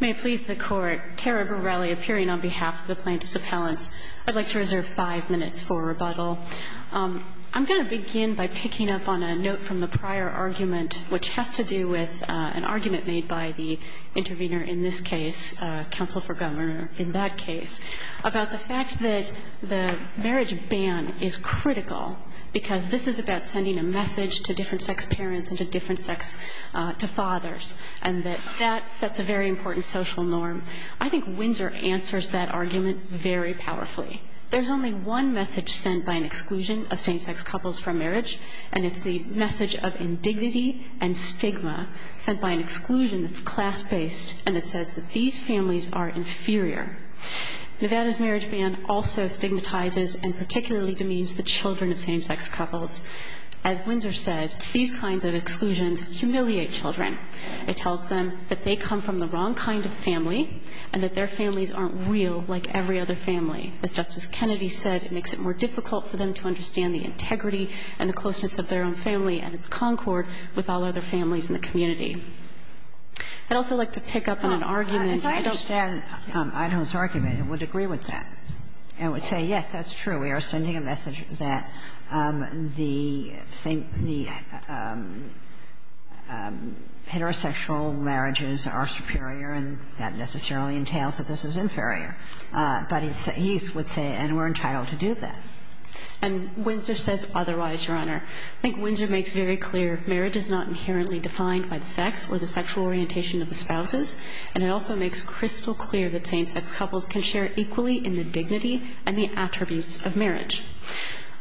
May it please the Court, Tara Borrelli appearing on behalf of the plaintiffs' appellants. I'd like to reserve five minutes for rebuttal. I'm going to begin by picking up on a note from the prior argument, which has to do with an argument made by the intervener in this case, counsel for governor in that case, about the fact that the marriage ban is critical because this is about sending a message to different-sex parents and to different-sex fathers, and that that sets a very important social norm. I think Windsor answers that argument very powerfully. There's only one message sent by an exclusion of same-sex couples from marriage, and it's the message of indignity and stigma sent by an exclusion that's class-based and that says that these families are inferior. Nevada's marriage ban also stigmatizes and particularly demeans the children of same-sex couples. As Windsor said, these kinds of exclusions humiliate children. It tells them that they come from the wrong kind of family and that their families aren't real like every other family. As Justice Kennedy said, it makes it more difficult for them to understand the integrity and the closeness of their own family and its concord with all other families in the community. I'd also like to pick up on an argument. I don't think that's true. Ginsburg I understand Adolf's argument. I would agree with that. I would say yes, that's true. We are sending a message that the same, the heterosexual marriages are superior and that necessarily entails that this is inferior. But he would say, and we're entitled to do that. And Windsor says otherwise, Your Honor. I think Windsor makes very clear marriage is not inherently defined by the sex or the sexual orientation of the spouses. And it also makes crystal clear that same-sex couples can share equally in the dignity and the attributes of marriage.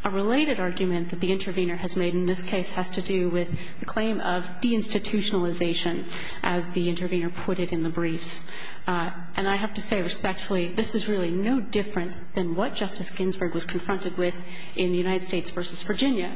A related argument that the intervener has made in this case has to do with the claim of deinstitutionalization, as the intervener put it in the briefs. And I have to say respectfully, this is really no different than what Justice Ginsburg was confronted with in the United States v. Virginia,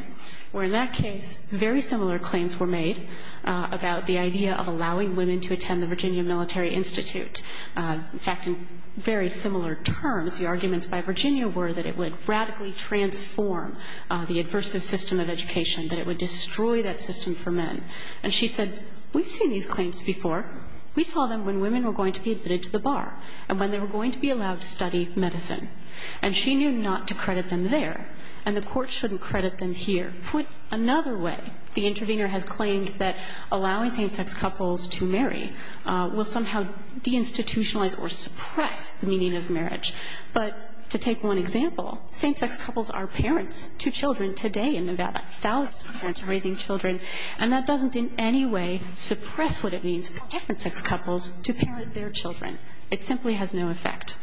where in that case very similar claims were made about the idea of allowing women to attend the Virginia Military Institute. In fact, in very similar terms, the arguments by Virginia were that it would radically transform the aversive system of education, that it would destroy that system for men. And she said, we've seen these claims before. We saw them when women were going to be admitted to the bar and when they were going to be allowed to study medicine. And she knew not to credit them there, and the Court shouldn't credit them here. Put another way, the intervener has claimed that allowing same-sex couples to marry will somehow deinstitutionalize or suppress the meaning of marriage. But to take one example, same-sex couples are parents to children today in Nevada. Thousands of parents are raising children, and that doesn't in any way suppress what it means for different-sex couples to parent their children. It simply has no effect.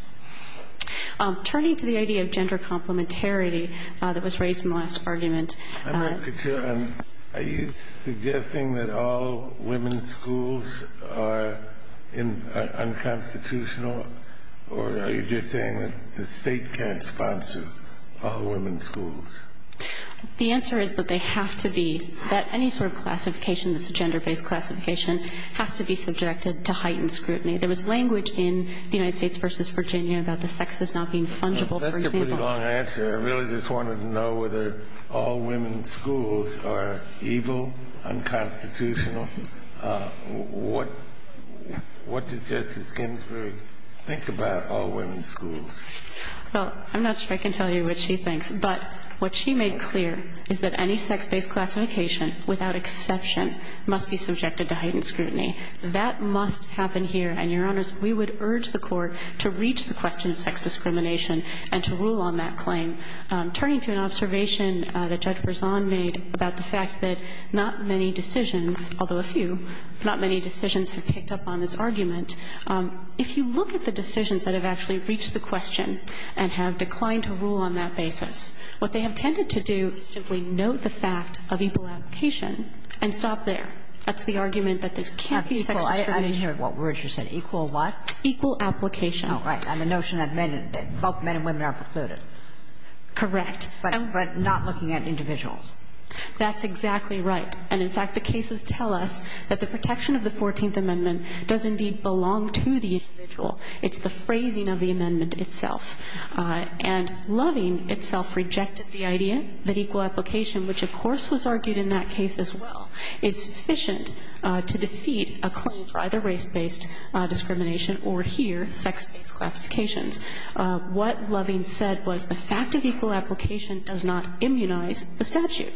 Turning to the idea of gender complementarity that was raised in the last argument. Are you suggesting that all women's schools are unconstitutional? Or are you just saying that the State can't sponsor all women's schools? The answer is that they have to be. That any sort of classification that's a gender-based classification has to be subjected to heightened scrutiny. There was language in the United States v. Virginia about the sexes not being fungible, for example. That's a pretty long answer. I really just wanted to know whether all women's schools are evil, unconstitutional. What does Justice Ginsburg think about all women's schools? Well, I'm not sure I can tell you what she thinks. But what she made clear is that any sex-based classification, without exception, must be subjected to heightened scrutiny. That must happen here. And, Your Honors, we would urge the Court to reach the question of sex discrimination and to rule on that claim. Turning to an observation that Judge Berzon made about the fact that not many decisions, although a few, not many decisions have picked up on this argument. If you look at the decisions that have actually reached the question and have declined to rule on that basis, what they have tended to do is simply note the fact of equal application and stop there. That's the argument that this can't be sex discrimination. I didn't hear what words you said. Equal what? Equal application. Right. And the notion that both men and women are precluded. Correct. But not looking at individuals. That's exactly right. And, in fact, the cases tell us that the protection of the Fourteenth Amendment does indeed belong to the individual. It's the phrasing of the amendment itself. And Loving itself rejected the idea that equal application, which of course was argued in that case as well, is sufficient to defeat a claim for either race-based discrimination or, here, sex-based classifications. What Loving said was the fact of equal application does not immunize the statute.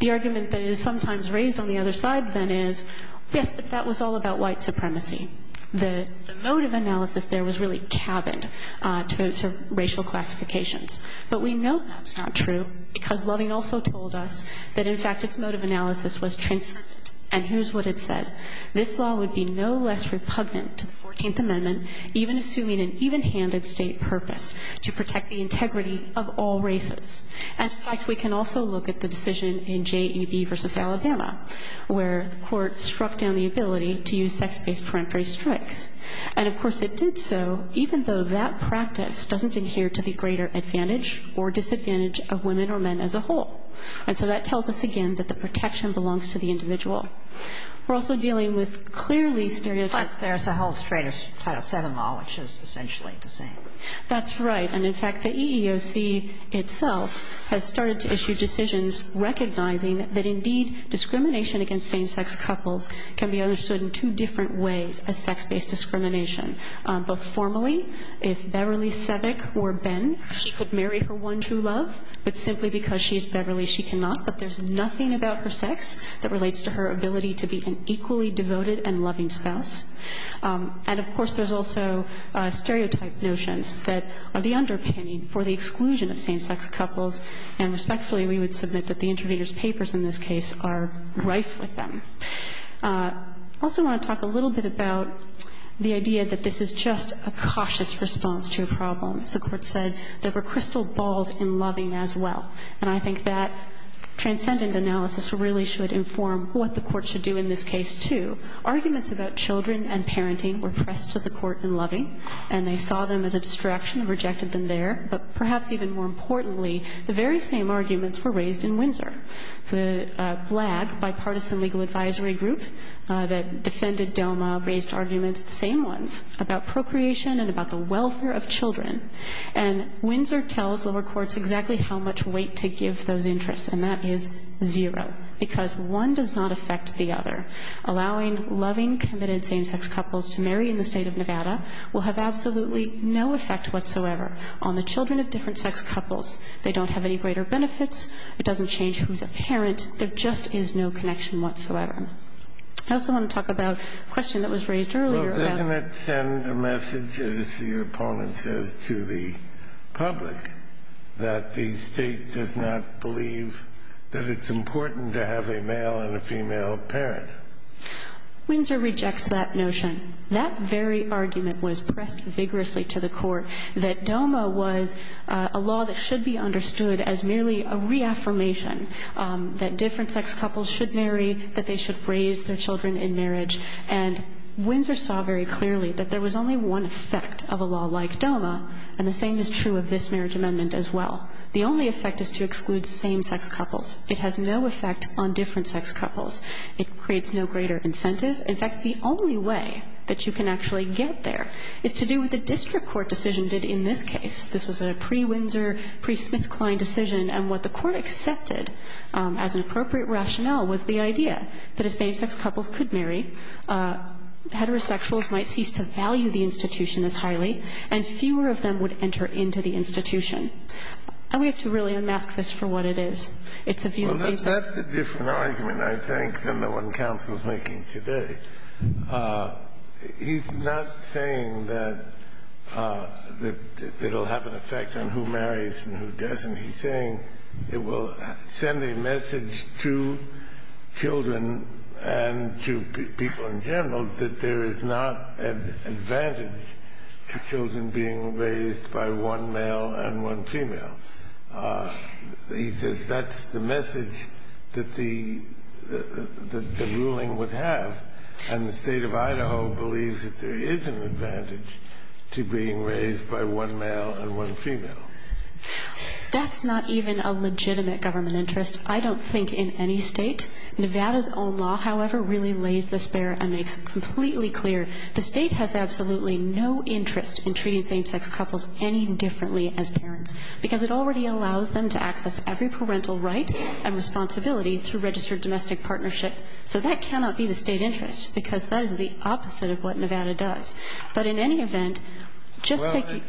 The argument that is sometimes raised on the other side, then, is, yes, but that was all about white supremacy. The mode of analysis there was really cabined to racial classifications. But we know that's not true because Loving also told us that, in fact, its mode of analysis was transcendent. And here's what it said. This law would be no less repugnant to the Fourteenth Amendment, even assuming an evenhanded State purpose, to protect the integrity of all races. And, in fact, we can also look at the decision in JEB v. Alabama, where the Court struck down the ability to use sex-based peremptory strikes. And, of course, it did so even though that practice doesn't adhere to the greater advantage or disadvantage of women or men as a whole. And so that tells us again that the protection belongs to the individual. We're also dealing with clearly stereotypes. Kagan. Plus there's a whole strain of Title VII law which is essentially the same. That's right. And, in fact, the EEOC itself has started to issue decisions recognizing that, indeed, discrimination against same-sex couples can be understood in two different ways as sex-based discrimination. But formally, if Beverly Sevick or Ben, she could marry her one true love, but simply because she's Beverly, she cannot. But there's nothing about her sex that relates to her ability to be an equally devoted and loving spouse. And, of course, there's also stereotype notions that are the underpinning for the exclusion of same-sex couples, and respectfully, we would submit that the interviewer's papers in this case are rife with them. I also want to talk a little bit about the idea that this is just a cautious response to a problem. As the Court said, there were crystal balls in loving as well. And I think that transcendent analysis really should inform what the Court should do in this case, too. Arguments about children and parenting were pressed to the Court in Loving, and they saw them as a distraction and rejected them there. But perhaps even more importantly, the very same arguments were raised in Windsor. The BLAG, Bipartisan Legal Advisory Group, that defended DOMA, raised arguments, the same ones, about procreation and about the welfare of children. And Windsor tells lower courts exactly how much weight to give those interests, and that is zero, because one does not affect the other. Allowing loving, committed same-sex couples to marry in the State of Nevada will have absolutely no effect whatsoever on the children of different sex couples. They don't have any greater benefits. It doesn't change who's a parent. There just is no connection whatsoever. I also want to talk about a question that was raised earlier. Kennedy. Well, doesn't it send a message, as your opponent says, to the public that the State does not believe that it's important to have a male and a female parent? Windsor rejects that notion. That very argument was pressed vigorously to the Court, that DOMA was a law that should be understood as merely a reaffirmation that different sex couples should raise their children in marriage. And Windsor saw very clearly that there was only one effect of a law like DOMA, and the same is true of this marriage amendment as well. The only effect is to exclude same-sex couples. It has no effect on different sex couples. It creates no greater incentive. In fact, the only way that you can actually get there is to do what the district court decision did in this case. This was a pre-Windsor, pre-Smithkline decision, and what the Court accepted as an appropriate rationale was the idea that if same-sex couples could marry, heterosexuals might cease to value the institution as highly, and fewer of them would enter into the institution. And we have to really unmask this for what it is. It's a view of same-sex couples. That's a different argument, I think, than the one counsel is making today. He's not saying that it will have an effect on who marries and who doesn't. He's saying it will send a message to children and to people in general that there is not an advantage to children being raised by one male and one female. He says that's the message that the ruling would have, and the State of Idaho believes that there is an advantage to being raised by one male and one female. Now, that's not even a legitimate government interest, I don't think, in any State. Nevada's own law, however, really lays this bare and makes it completely clear. The State has absolutely no interest in treating same-sex couples any differently as parents, because it already allows them to access every parental right and responsibility through registered domestic partnership. So that cannot be the State interest, because that is the opposite of what Nevada does. But in any event, just take it.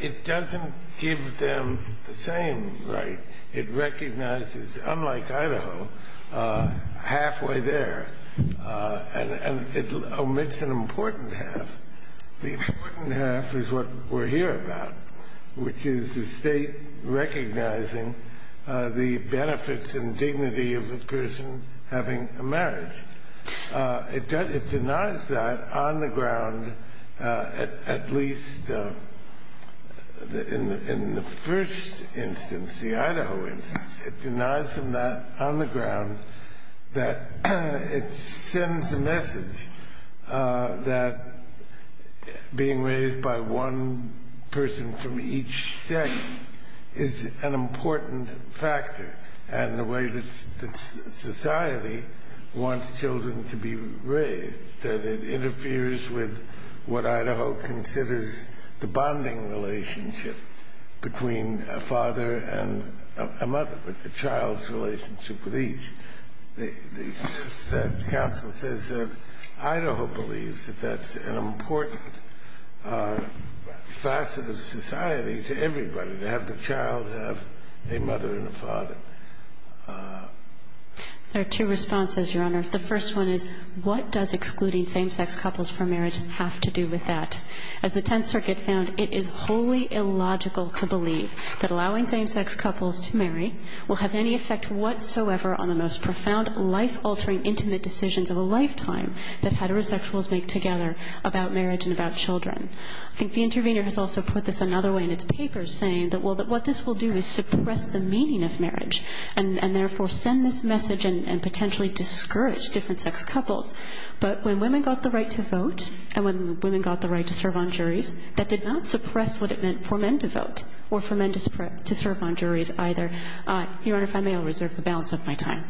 It doesn't give them the same right. It recognizes, unlike Idaho, halfway there. And it omits an important half. The important half is what we're here about, which is the State recognizing the benefits and dignity of a person having a marriage. It denies that on the ground, at least in the first instance, the Idaho instance. It denies that on the ground, that it sends a message that being raised by one person from each sex is an important factor. And the way that society wants children to be raised, that it interferes with what Idaho considers the bonding relationship between a father and a mother, the child's relationship with each. The Council says that Idaho believes that that's an important facet of society to have the child have a mother and a father. There are two responses, Your Honor. The first one is, what does excluding same-sex couples from marriage have to do with that? As the Tenth Circuit found, it is wholly illogical to believe that allowing same-sex couples to marry will have any effect whatsoever on the most profound, life-altering, intimate decisions of a lifetime that heterosexuals make together about marriage and about children. I think the intervener has also put this another way in its papers, saying that, well, what this will do is suppress the meaning of marriage and, therefore, send this message and potentially discourage different-sex couples. But when women got the right to vote and when women got the right to serve on juries, that did not suppress what it meant for men to vote or for men to serve on juries either. Your Honor, if I may, I'll reserve the balance of my time.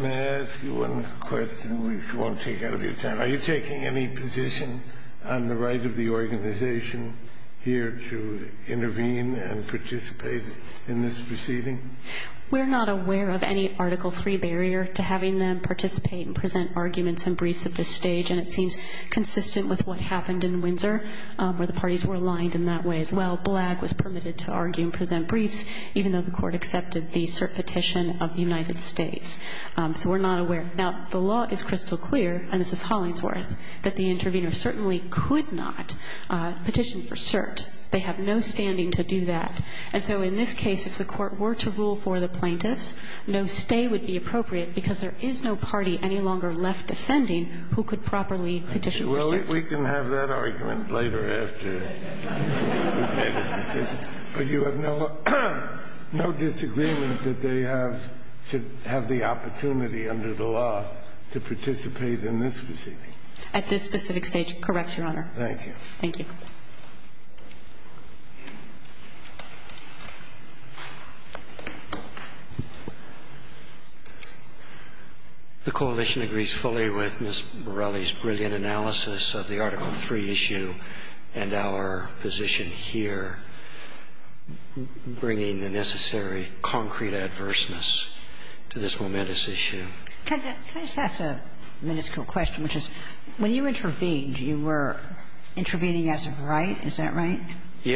May I ask you one question, which won't take out of your time? Are you taking any position on the right of the organization here to intervene and participate in this proceeding? We're not aware of any Article III barrier to having them participate and present arguments and briefs at this stage, and it seems consistent with what happened in Windsor, where the parties were aligned in that way as well. Blagg was permitted to argue and present briefs, even though the Court accepted the cert petition of the United States. So we're not aware. Now, the law is crystal clear, and this is Hollingsworth, that the intervener certainly could not petition for cert. They have no standing to do that. And so in this case, if the Court were to rule for the plaintiffs, no stay would be appropriate because there is no party any longer left defending who could properly petition for cert. We can have that argument later after we've made a decision. But you have no disagreement that they have to have the opportunity under the law to participate in this proceeding? At this specific stage, correct, Your Honor. Thank you. Thank you. The coalition agrees fully with Ms. Borelli's brilliant analysis of the Article III issue and our position here, bringing the necessary concrete adverseness to this momentous issue. Can I just ask a miniscule question, which is, when you intervened, you were intervening as a right? Is that right?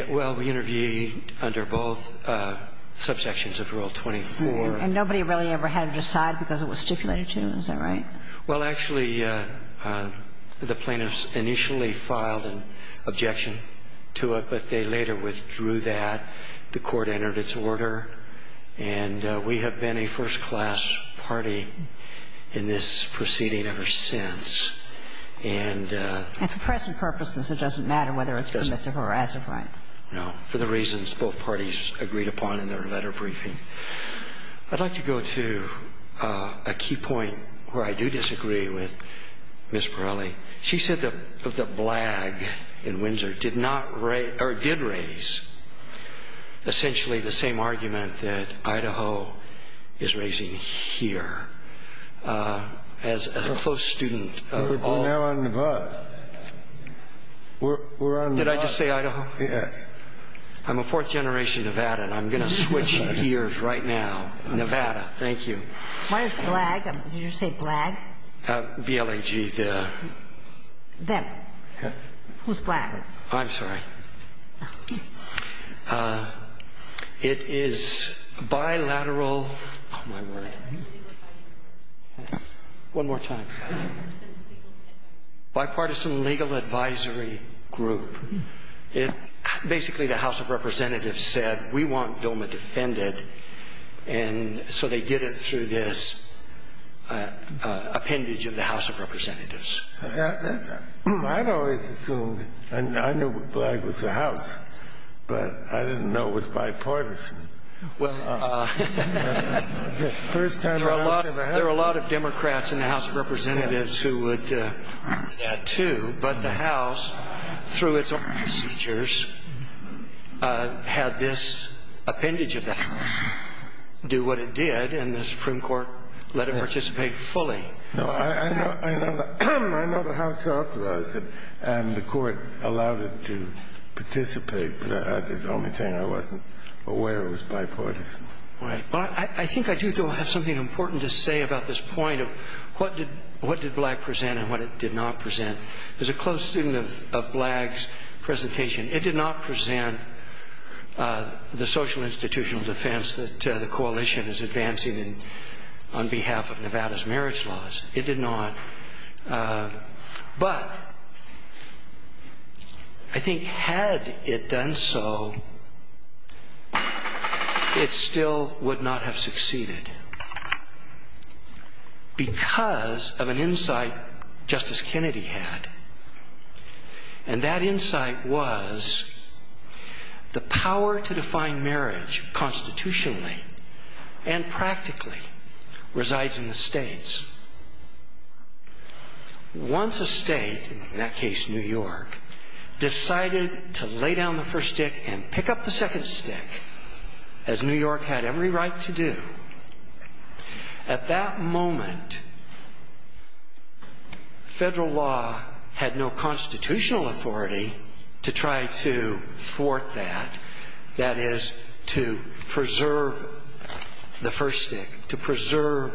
Well, we interviewed under both subsections of Rule 24. And nobody really ever had to decide because it was stipulated to? Is that right? Well, actually, the plaintiffs initially filed an objection to it, but they later withdrew that. The Court entered its order, and we have been a first-class party in this proceeding ever since. And for present purposes, it doesn't matter whether it's permissive or as a right? No, for the reasons both parties agreed upon in their letter briefing. I'd like to go to a key point where I do disagree with Ms. Borelli. She said that the blag in Windsor did not raise or did raise essentially the same argument that Idaho is raising here. And that is the case. And I would say that they did raise the same argument as the proposed student of all of them. But now on Nevada, we're on Nevada. Did I just say Idaho? Yes. I'm a fourth generation Nevada, and I'm going to switch gears right now. Nevada. Thank you. Why is blag? Did you say blag? BLG. The. Them. Okay. Who's blag? I'm sorry. It is bilateral. Oh, my word. One more time. Bipartisan legal advisory group. It basically the House of Representatives said we want Doma defended. And so they did it through this appendage of the House of Representatives. I've always assumed. And I knew blag was the House, but I didn't know it was bipartisan. Well. First time. There are a lot of Democrats in the House of Representatives who would do that, too. But the House, through its own procedures, had this appendage of the House. Do what it did in the Supreme Court. Let it participate fully. No. I know. I know. I know the House talked about it. And the court allowed it to participate. But that's the only thing. I wasn't aware it was bipartisan. Right. Well, I think I do, though, have something important to say about this point of what did blag present and what it did not present. As a close student of blag's presentation, it did not present the social institutional defense that the coalition is advancing on behalf of Nevada's marriage laws. It did not. But I think had it done so, it still would not have succeeded because of an insight Justice Kennedy had. And that insight was the power to define marriage constitutionally and practically resides in the states. Once a state, in that case New York, decided to lay down the first stick and pick up the second stick, as New York had every right to do, at that moment, federal law had no constitutional authority to try to thwart that, that is, to preserve the first stick, to preserve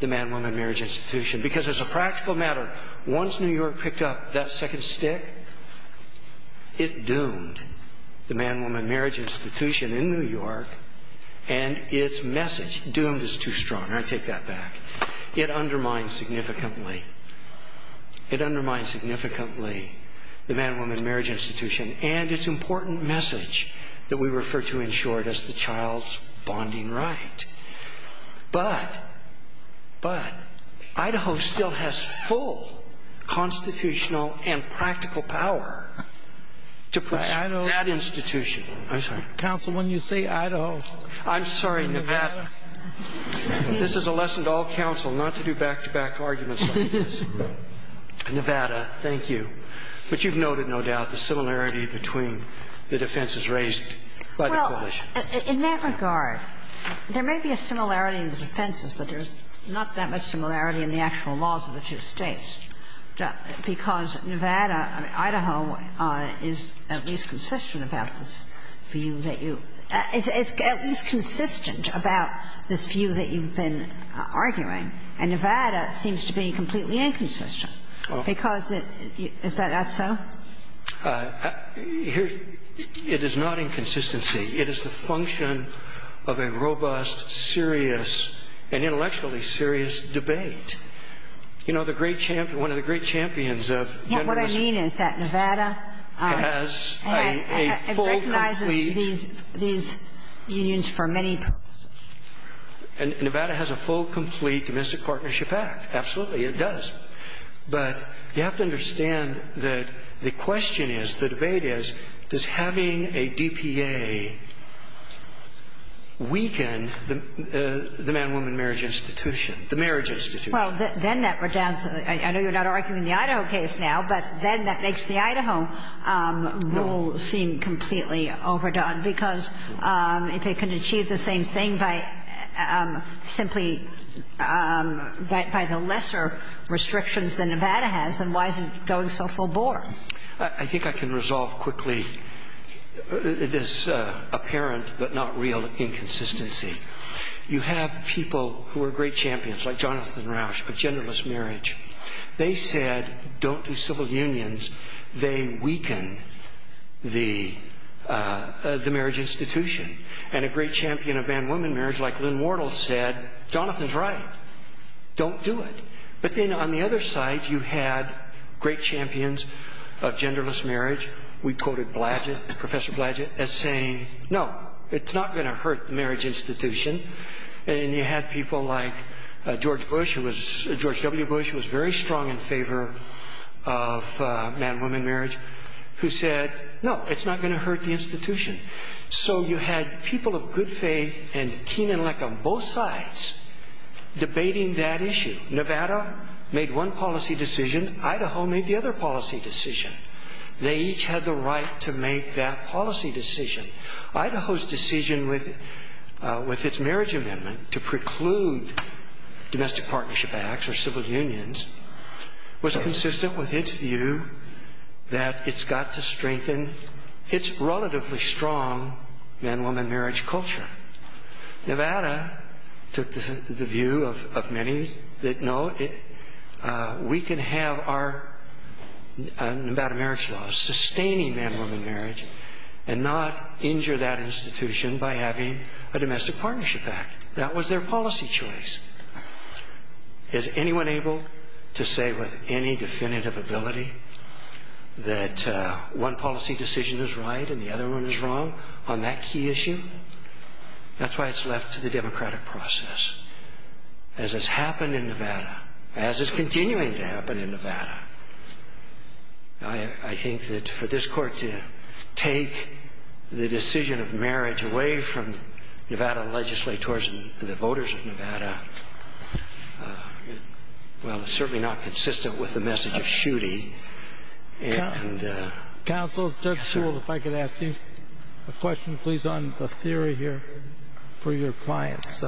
the man-woman marriage institution because as a practical matter, once New York picked up that second stick, it doomed the man-woman marriage institution in New York and its message, doomed is too strong, I take that back, it undermined significantly, it undermined significantly the man-woman marriage institution and its important message that we refer to in short as the child's bonding right. But, but, Idaho still has full constitutional and practical power to preserve that institution. Counsel, when you say Idaho, I'm sorry, Nevada. This is a lesson to all counsel, not to do back-to-back arguments like this. Nevada, thank you. But you've noted, no doubt, the similarity between the defenses raised by the coalition. In that regard, there may be a similarity in the defenses, but there's not that much similarity in the actual laws of the two States, because Nevada, Idaho is at least consistent about this view that you, is at least consistent about this view that you've been arguing, and Nevada seems to be completely inconsistent because it, is that so? Here, it is not inconsistency. It is the function of a robust, serious, and intellectually serious debate. You know, the great champion, one of the great champions of gender... What I mean is that Nevada... Has a full, complete... And recognizes these, these unions for many purposes. And Nevada has a full, complete domestic partnership act. Absolutely, it does. But you have to understand that the question is, the debate is, does having a DPA weaken the man-woman marriage institution, the marriage institution? Well, then that would down... I know you're not arguing the Idaho case now, but then that makes the Idaho rule seem completely overdone, because if it can achieve the same thing by simply, by the lesser restrictions that Nevada has, then why is it going so full-bore? I think I can resolve quickly this apparent, but not real, inconsistency. You have people who are great champions, like Jonathan Rauch, of genderless marriage. They said, don't do civil unions. They weaken the marriage institution. And a great champion of man-woman marriage, like Lynn Wardle, said, Jonathan's right. Don't do it. But then on the other side, you had great champions of genderless marriage. We quoted Bladgett, Professor Bladgett, as saying, no, it's not going to hurt the marriage institution. And you had people like George Bush, who was... George W. Bush was very strong in favor of man-woman marriage, who said, no, it's not going to hurt the institution. So you had people of good faith and keen intellect on both sides debating that issue. Nevada made one policy decision. Idaho made the other policy decision. They each had the right to make that policy decision. Idaho's decision with its marriage amendment to preclude domestic partnership acts or civil unions was consistent with its view that it's got to strengthen its relatively strong man-woman marriage culture. Nevada took the view of many that, no, we can have our Nevada marriage law sustaining man-woman marriage and not injure that institution by having a domestic partnership act. That was their policy choice. Is anyone able to say with any definitive ability that one policy decision is right and the other one is wrong on that key issue? That's why it's left to the democratic process. As has happened in Nevada, as is continuing to happen in Nevada, I think that for this court to take the decision of marriage away from Nevada legislators and, of course, the voters of Nevada, well, it's certainly not consistent with the message of Schuette. Counsel, Judge Sewell, if I could ask you a question, please, on the theory here for your clients.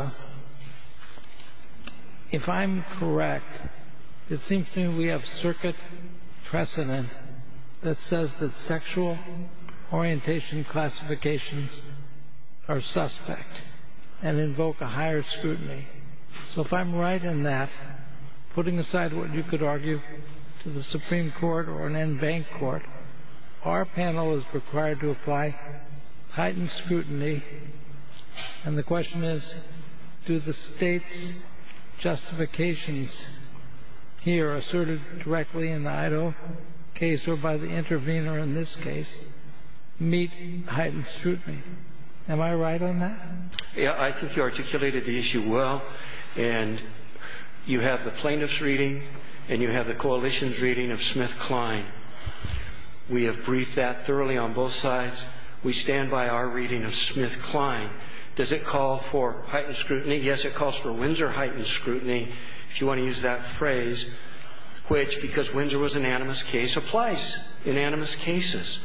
If I'm correct, it seems to me we have circuit precedent that says that sexual orientation classifications are suspect and invoke a higher scrutiny. So if I'm right in that, putting aside what you could argue to the Supreme Court or an en banc court, our panel is required to apply heightened scrutiny, and the question is, do the state's justifications here asserted directly in the Idaho case or by the intervener in this case meet heightened scrutiny? Am I right on that? Yeah, I think you articulated the issue well, and you have the plaintiff's reading and you have the coalition's reading of Smith-Kline. We have briefed that thoroughly on both sides. We stand by our reading of Smith-Kline. Does it call for heightened scrutiny? Yes, it calls for Windsor heightened scrutiny, if you want to use that phrase, which, because Windsor was an anonymous case, applies, anonymous cases.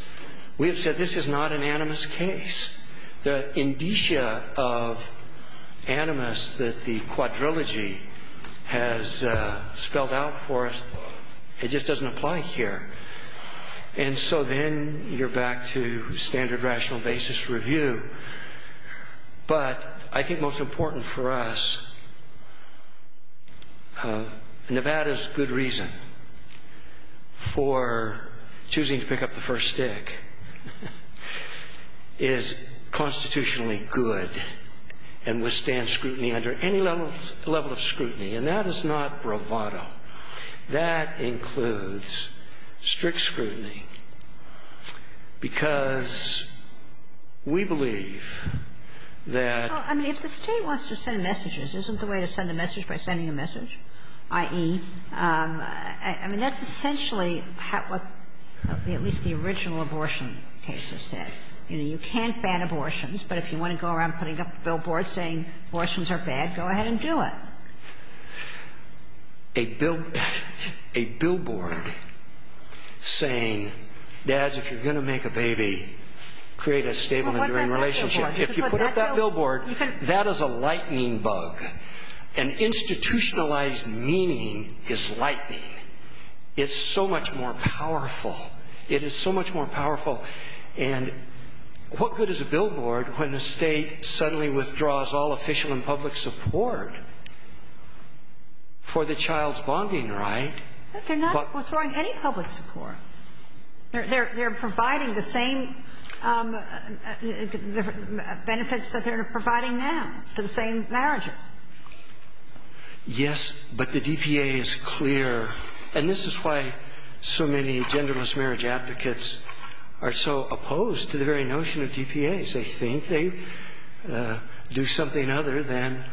We have said this is not an anonymous case. The indicia of anonymous that the quadrilogy has spelled out for us, it just doesn't apply here. And so then you're back to standard rational basis review. But I think most important for us, Nevada's good reason for choosing to pick up the first stick is constitutionally good and withstand scrutiny under any level of scrutiny, and that is not bravado. That includes strict scrutiny, because we believe that the State wants to send messages, isn't the way to send a message by sending a message? I.e., I mean, that's essentially what at least the original abortion cases said. You know, you can't ban abortions, but if you want to go around putting up a billboard saying abortions are bad, go ahead and do it. A billboard saying, dads, if you're going to make a baby, create a stable and enduring relationship. If you put up that billboard, that is a lightning bug. And institutionalized meaning is lightning. It's so much more powerful. It is so much more powerful. And what good is a billboard when the State suddenly withdraws all official and public support for the child's bonding right? They're not withdrawing any public support. They're providing the same benefits that they're providing now to the same marriages. Yes, but the DPA is clear. And this is why so many genderless marriage applicants are so opposed to the very notion of DPAs. They think they do something other than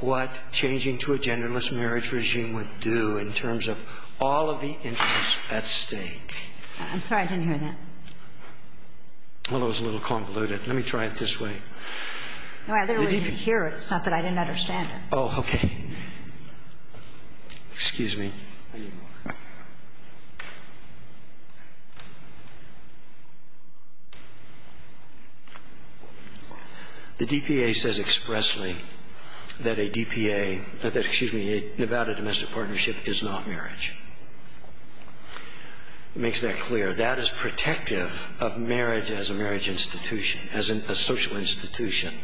what changing to a genderless marriage regime would do in terms of all of the interests at stake. I'm sorry. I didn't hear that. Well, that was a little convoluted. Let me try it this way. No, I literally didn't hear it. It's not that I didn't understand it. Oh, okay. Excuse me. I didn't hear it. The DPA says expressly that a DPA, excuse me, about a domestic partnership is not marriage. It makes that clear. That is protective of marriage as a marriage institution, as a social institution.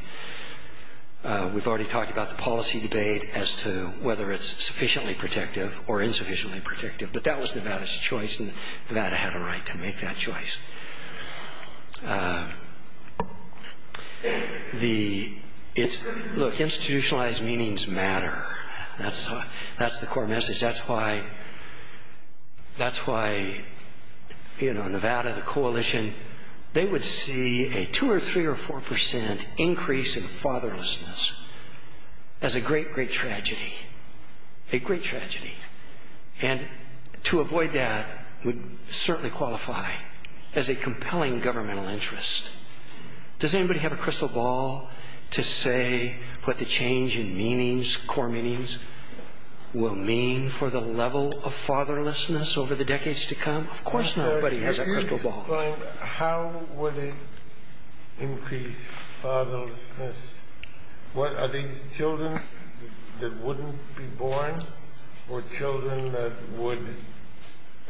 We've already talked about the policy debate as to whether it's sufficiently protective or insufficiently protective. But that was Nevada's choice, and Nevada had a right to make that choice. Look, institutionalized meanings matter. That's the core message. That's why Nevada, the coalition, they would see a 2% or 3% or 4% increase in fatherlessness as a great, great tragedy. A great tragedy. And to avoid that would certainly qualify as a compelling governmental interest. Does anybody have a crystal ball to say what the change in meanings, core meanings, will mean for the level of fatherlessness over the decades to come? Of course nobody has a crystal ball. How would it increase fatherlessness? Are these children that wouldn't be born or children that would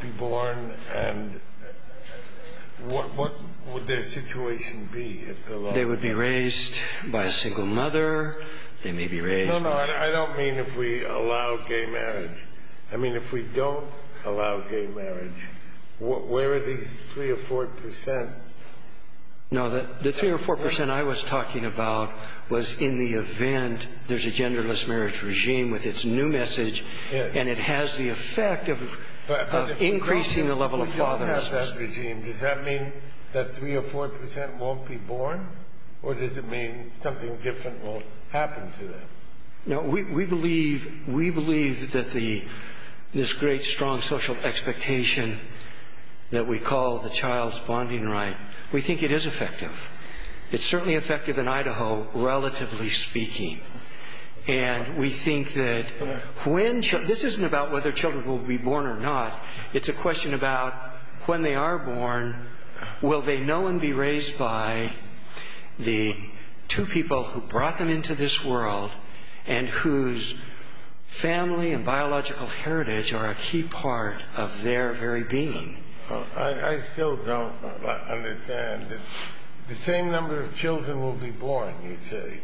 be born? And what would their situation be? They would be raised by a single mother. They may be raised... No, no, I don't mean if we allow gay marriage. I mean if we don't allow gay marriage, where are these 3% or 4%? No, the 3% or 4% I was talking about was in the event there's a genderless marriage regime with its new message, and it has the effect of increasing the level of fatherlessness. But if we don't have that regime, does that mean that 3% or 4% won't be born? Or does it mean something different won't happen to them? No, we believe that this great, strong social expectation that we call the child's bonding right, we think it is effective. It's certainly effective in Idaho, relatively speaking. And we think that when... This isn't about whether children will be born or not. It's a question about when they are born, will they know and be raised by the 2 people who brought them into this world and whose family and biological heritage are a key part of their very being? I still don't understand. The same number of children will be born, you say,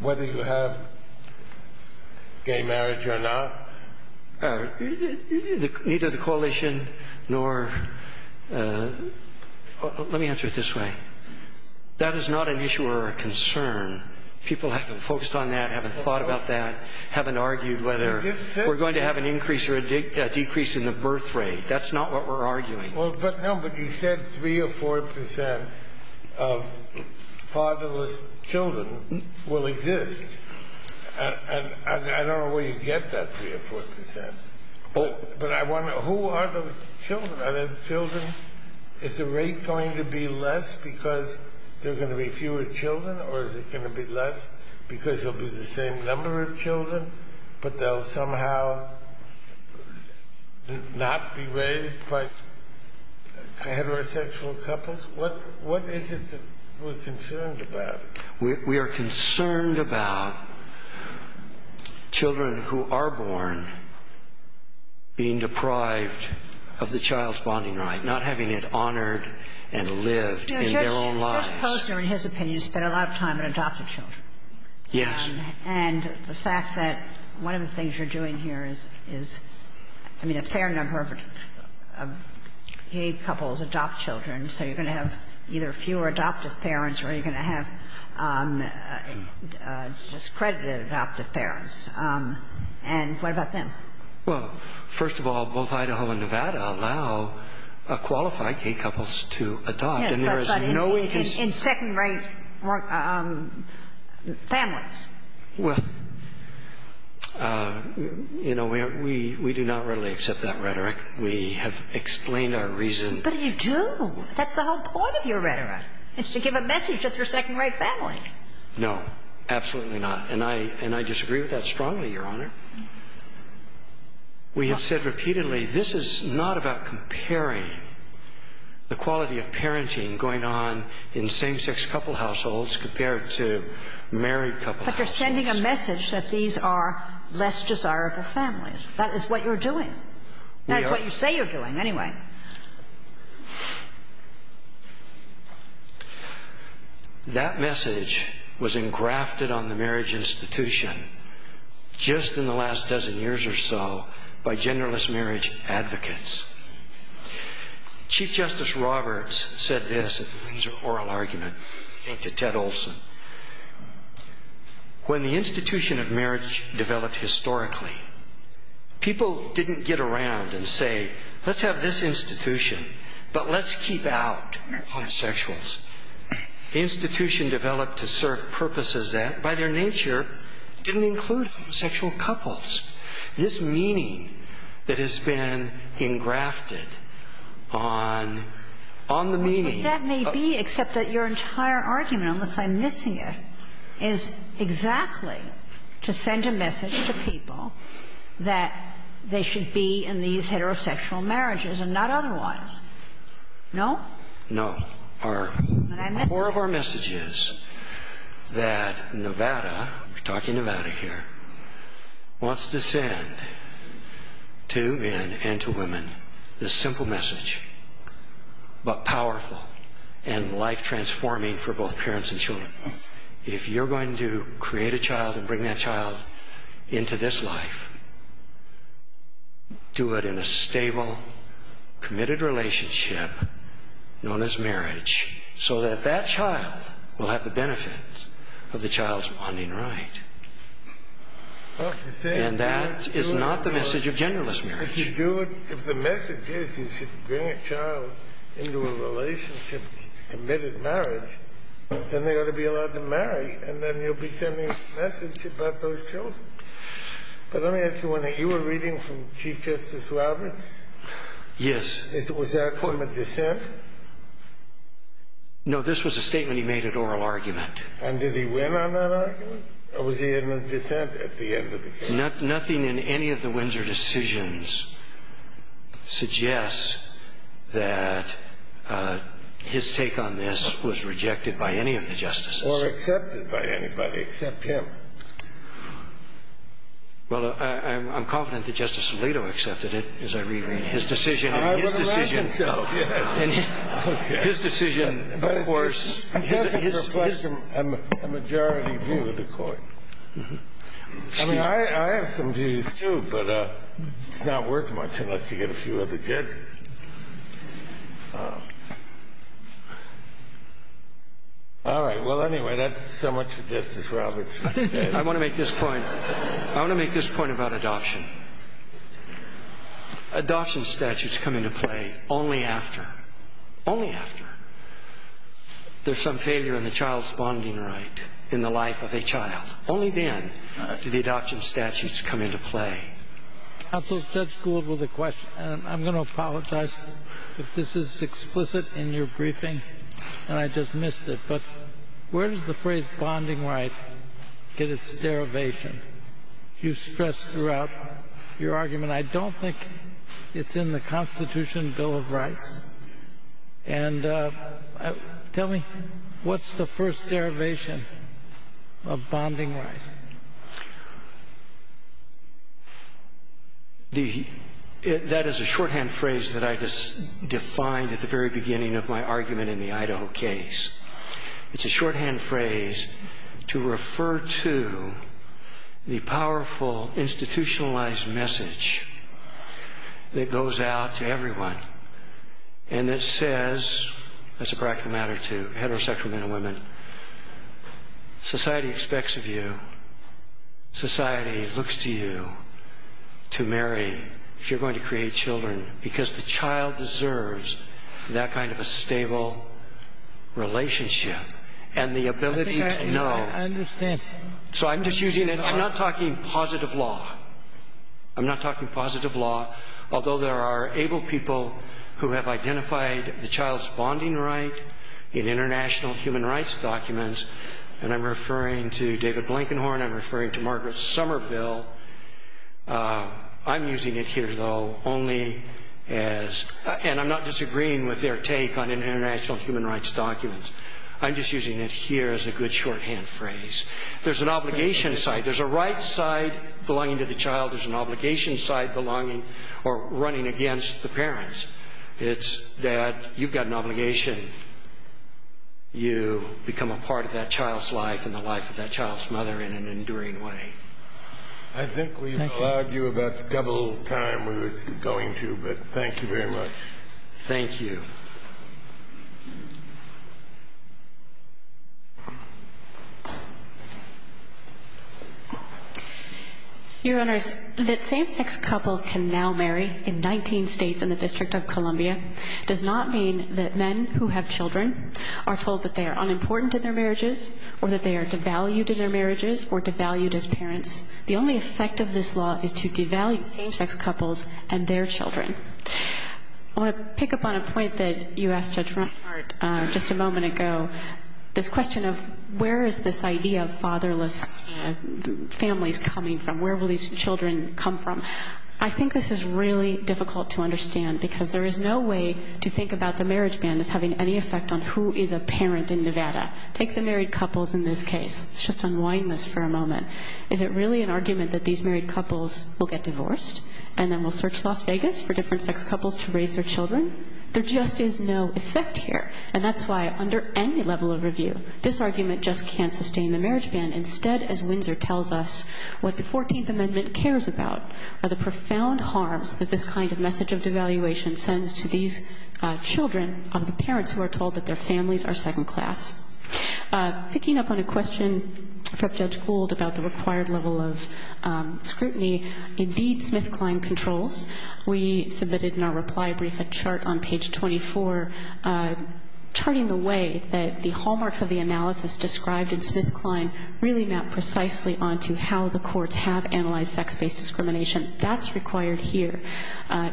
whether you have gay marriage or not? Neither the coalition nor... Let me answer it this way. That is not an issue or a concern. People haven't focused on that, haven't thought about that, haven't argued whether we're going to have an increase or a decrease in the birth rate. That's not what we're arguing. No, but you said 3 or 4 percent of fatherless children will exist. And I don't know where you get that 3 or 4 percent. But I wonder, who are those children? Are those children... Is the rate going to be less because there are going to be fewer children? Or is it going to be less because there will be the same number of children, but they'll somehow not be raised by heterosexual couples? What is it that we're concerned about? We are concerned about children who are born being deprived of the child's bonding right, not having it honored and lived in their own lives. Judge Posner, in his opinion, spent a lot of time on adoptive children. Yes. And the fact that one of the things you're doing here is, I mean, a fair number of gay couples adopt children, so you're going to have either fewer adoptive parents or you're going to have discredited adoptive parents. And what about them? Well, first of all, both Idaho and Nevada allow qualified gay couples to adopt. Yes, that's right. In second-rate families. Well, you know, we do not readily accept that rhetoric. We have explained our reason. But you do. That's the whole point of your rhetoric. It's to give a message that they're second-rate families. No, absolutely not. And I disagree with that strongly, Your Honor. We have said repeatedly this is not about comparing the quality of parenting going on in same-sex couple households compared to married couple households. But you're sending a message that these are less desirable families. That is what you're doing. That is what you say you're doing anyway. That message was engrafted on the marriage institution just in the last dozen years or so by genderless marriage advocates. Chief Justice Roberts said this, and this is an oral argument, I think, to Ted Olson. When the institution of marriage developed historically, people didn't get around and say, let's have this institution, but let's keep out homosexuals. The institution developed to serve purposes that, by their nature, didn't include homosexual couples. This meaning that has been engrafted on the meaning of the marriage institution. And the reason I'm missing it is exactly to send a message to people that they should be in these heterosexual marriages and not otherwise. No? No. Four of our messages that Nevada, we're talking Nevada here, wants to send to men and to women, this simple message, but powerful and life-transforming for both parents and children. If you're going to create a child and bring that child into this life, do it in a stable, committed relationship known as marriage, so that that child will have the benefits of the child's bonding right. And that is not the message of genderless marriage. If the message is you should bring a child into a relationship that's a committed marriage, then they ought to be allowed to marry, and then you'll be sending a message about those children. But let me ask you one thing. You were reading from Chief Justice Roberts? Yes. Was there a court of dissent? No. This was a statement he made at oral argument. And did he win on that argument? Or was he in a dissent at the end of the case? Nothing in any of the Windsor decisions suggests that his take on this was rejected by any of the justices. Or accepted by anybody except him. Well, I'm confident that Justice Alito accepted it, as I reread his decision. I would imagine so. His decision, of course. He has a majority view of the court. I mean, I have some views, too, but it's not worth much unless you get a few other judges. All right. Well, anyway, that's so much for Justice Roberts. I want to make this point. I want to make this point about adoption. Adoption statutes come into play only after. Only after. There's some failure in the child's bonding right in the life of a child. Only then do the adoption statutes come into play. Counsel, Judge Gould with a question. And I'm going to apologize if this is explicit in your briefing, and I just missed it. But where does the phrase bonding right get its derivation? You've stressed throughout your argument. I don't think it's in the Constitution Bill of Rights. And tell me, what's the first derivation of bonding right? That is a shorthand phrase that I just defined at the very beginning of my argument in the Idaho case. It's a shorthand phrase to refer to the powerful institutionalized message that goes out to everyone and that says, as a practical matter to heterosexual men and women, society expects of you, society looks to you to marry if you're going to create children because the child deserves that kind of a stable relationship and the ability to know. I think I understand. So I'm just using it. I'm not talking positive law. I'm not talking positive law. Although there are able people who have identified the child's bonding right in international human rights documents, and I'm referring to David Blankenhorn, I'm referring to Margaret Somerville, I'm using it here, though, only as, and I'm not disagreeing with their take on international human rights documents. I'm just using it here as a good shorthand phrase. There's an obligation side. There's a right side belonging to the child. There's an obligation side belonging or running against the parents. It's, Dad, you've got an obligation. You become a part of that child's life and the life of that child's mother in an enduring way. I think we've allowed you about double the time we were going to, but thank you very much. Thank you. Your Honors, that same-sex couples can now marry in 19 states and the District of Columbia does not mean that men who have children are told that they are unimportant in their marriages or that they are devalued in their marriages or devalued as parents. The only effect of this law is to devalue same-sex couples and their children. I want to pick up on a point that you asked Judge Rothbart just a moment ago, this question of where is this idea of fatherless families coming from? Where will these children come from? I think this is really difficult to understand because there is no way to think about the marriage ban as having any effect on who is a parent in Nevada. Take the married couples in this case. Let's just unwind this for a moment. Is it really an argument that these married couples will get divorced and then will search Las Vegas for different-sex couples to raise their children? There just is no effect here, and that's why under any level of review, this argument just can't sustain the marriage ban. Instead, as Windsor tells us, what the 14th Amendment cares about are the profound harms that this kind of message of devaluation sends to these children of the parents who are told that their families are second class. Picking up on a question from Judge Gould about the required level of scrutiny, indeed SmithKline controls. We submitted in our reply brief a chart on page 24, charting the way that the hallmarks of the analysis described in SmithKline really map precisely onto how the courts have analyzed sex-based discrimination. That's required here.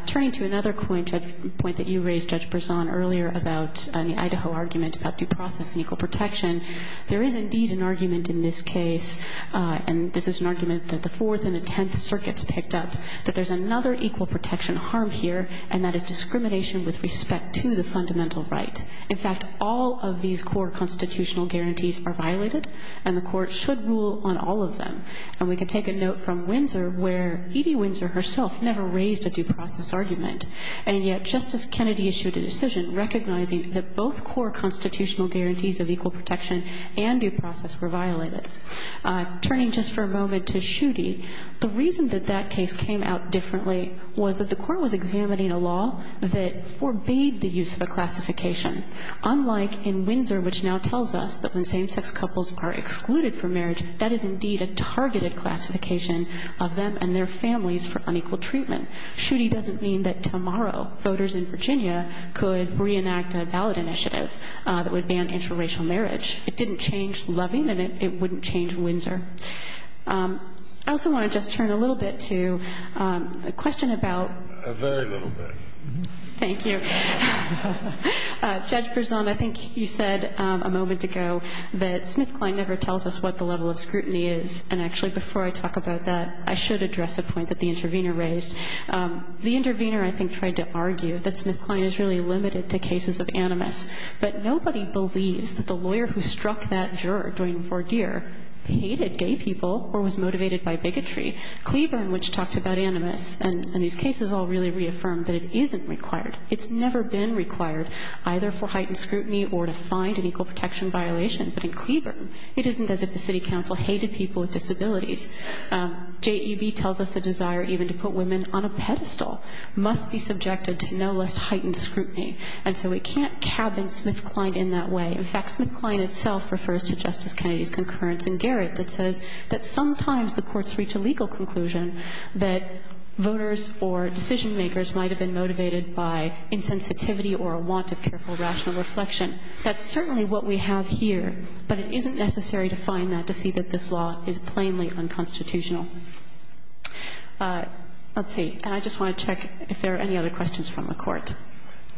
Turning to another point that you raised, Judge Berzon, earlier about the Idaho argument about due process and equal protection, there is indeed an argument in this case, and this is an argument that the Fourth and the Tenth Circuits picked up, that there's another equal protection harm here, and that is discrimination with respect to the fundamental right. In fact, all of these core constitutional guarantees are violated, and the court should rule on all of them. And we can take a note from Windsor where Edie Windsor herself never raised a due process argument, and yet Justice Kennedy issued a decision recognizing that both core constitutional guarantees of equal protection and due process were violated. Turning just for a moment to Schutte, the reason that that case came out differently was that the court was examining a law that forbade the use of a classification, unlike in Windsor, which now tells us that when same-sex couples are excluded from marriage, that is indeed a targeted classification of them and their families for unequal treatment. Schutte doesn't mean that tomorrow voters in Virginia could reenact a ballot initiative that would ban interracial marriage. It didn't change Loving, and it wouldn't change Windsor. I also want to just turn a little bit to a question about — A very little bit. Thank you. Judge Berzon, I think you said a moment ago that SmithKline never tells us what the level of scrutiny is. And actually, before I talk about that, I should address a point that the intervener raised. The intervener, I think, tried to argue that SmithKline is really limited to cases of animus. But nobody believes that the lawyer who struck that juror, Duane Vordier, hated gay people or was motivated by bigotry. Cleburne, which talked about animus in these cases, all really reaffirmed that it isn't required. It's never been required, either for heightened scrutiny or to find an equal protection violation. But in Cleburne, it isn't as if the city council hated people with disabilities. JEB tells us the desire even to put women on a pedestal must be subjected to no less heightened scrutiny. And so it can't cabinet SmithKline in that way. In fact, SmithKline itself refers to Justice Kennedy's concurrence in Garrett that says that sometimes the courts reach a legal conclusion that voters or decision makers might have been motivated by insensitivity or a want of careful rational reflection. That's certainly what we have here. But it isn't necessary to find that to see that this law is plainly unconstitutional. Let's see. And I just want to check if there are any other questions from the Court.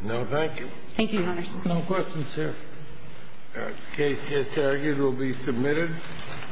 No, thank you. Thank you, Your Honors. No questions, sir. The case is argued. It will be submitted.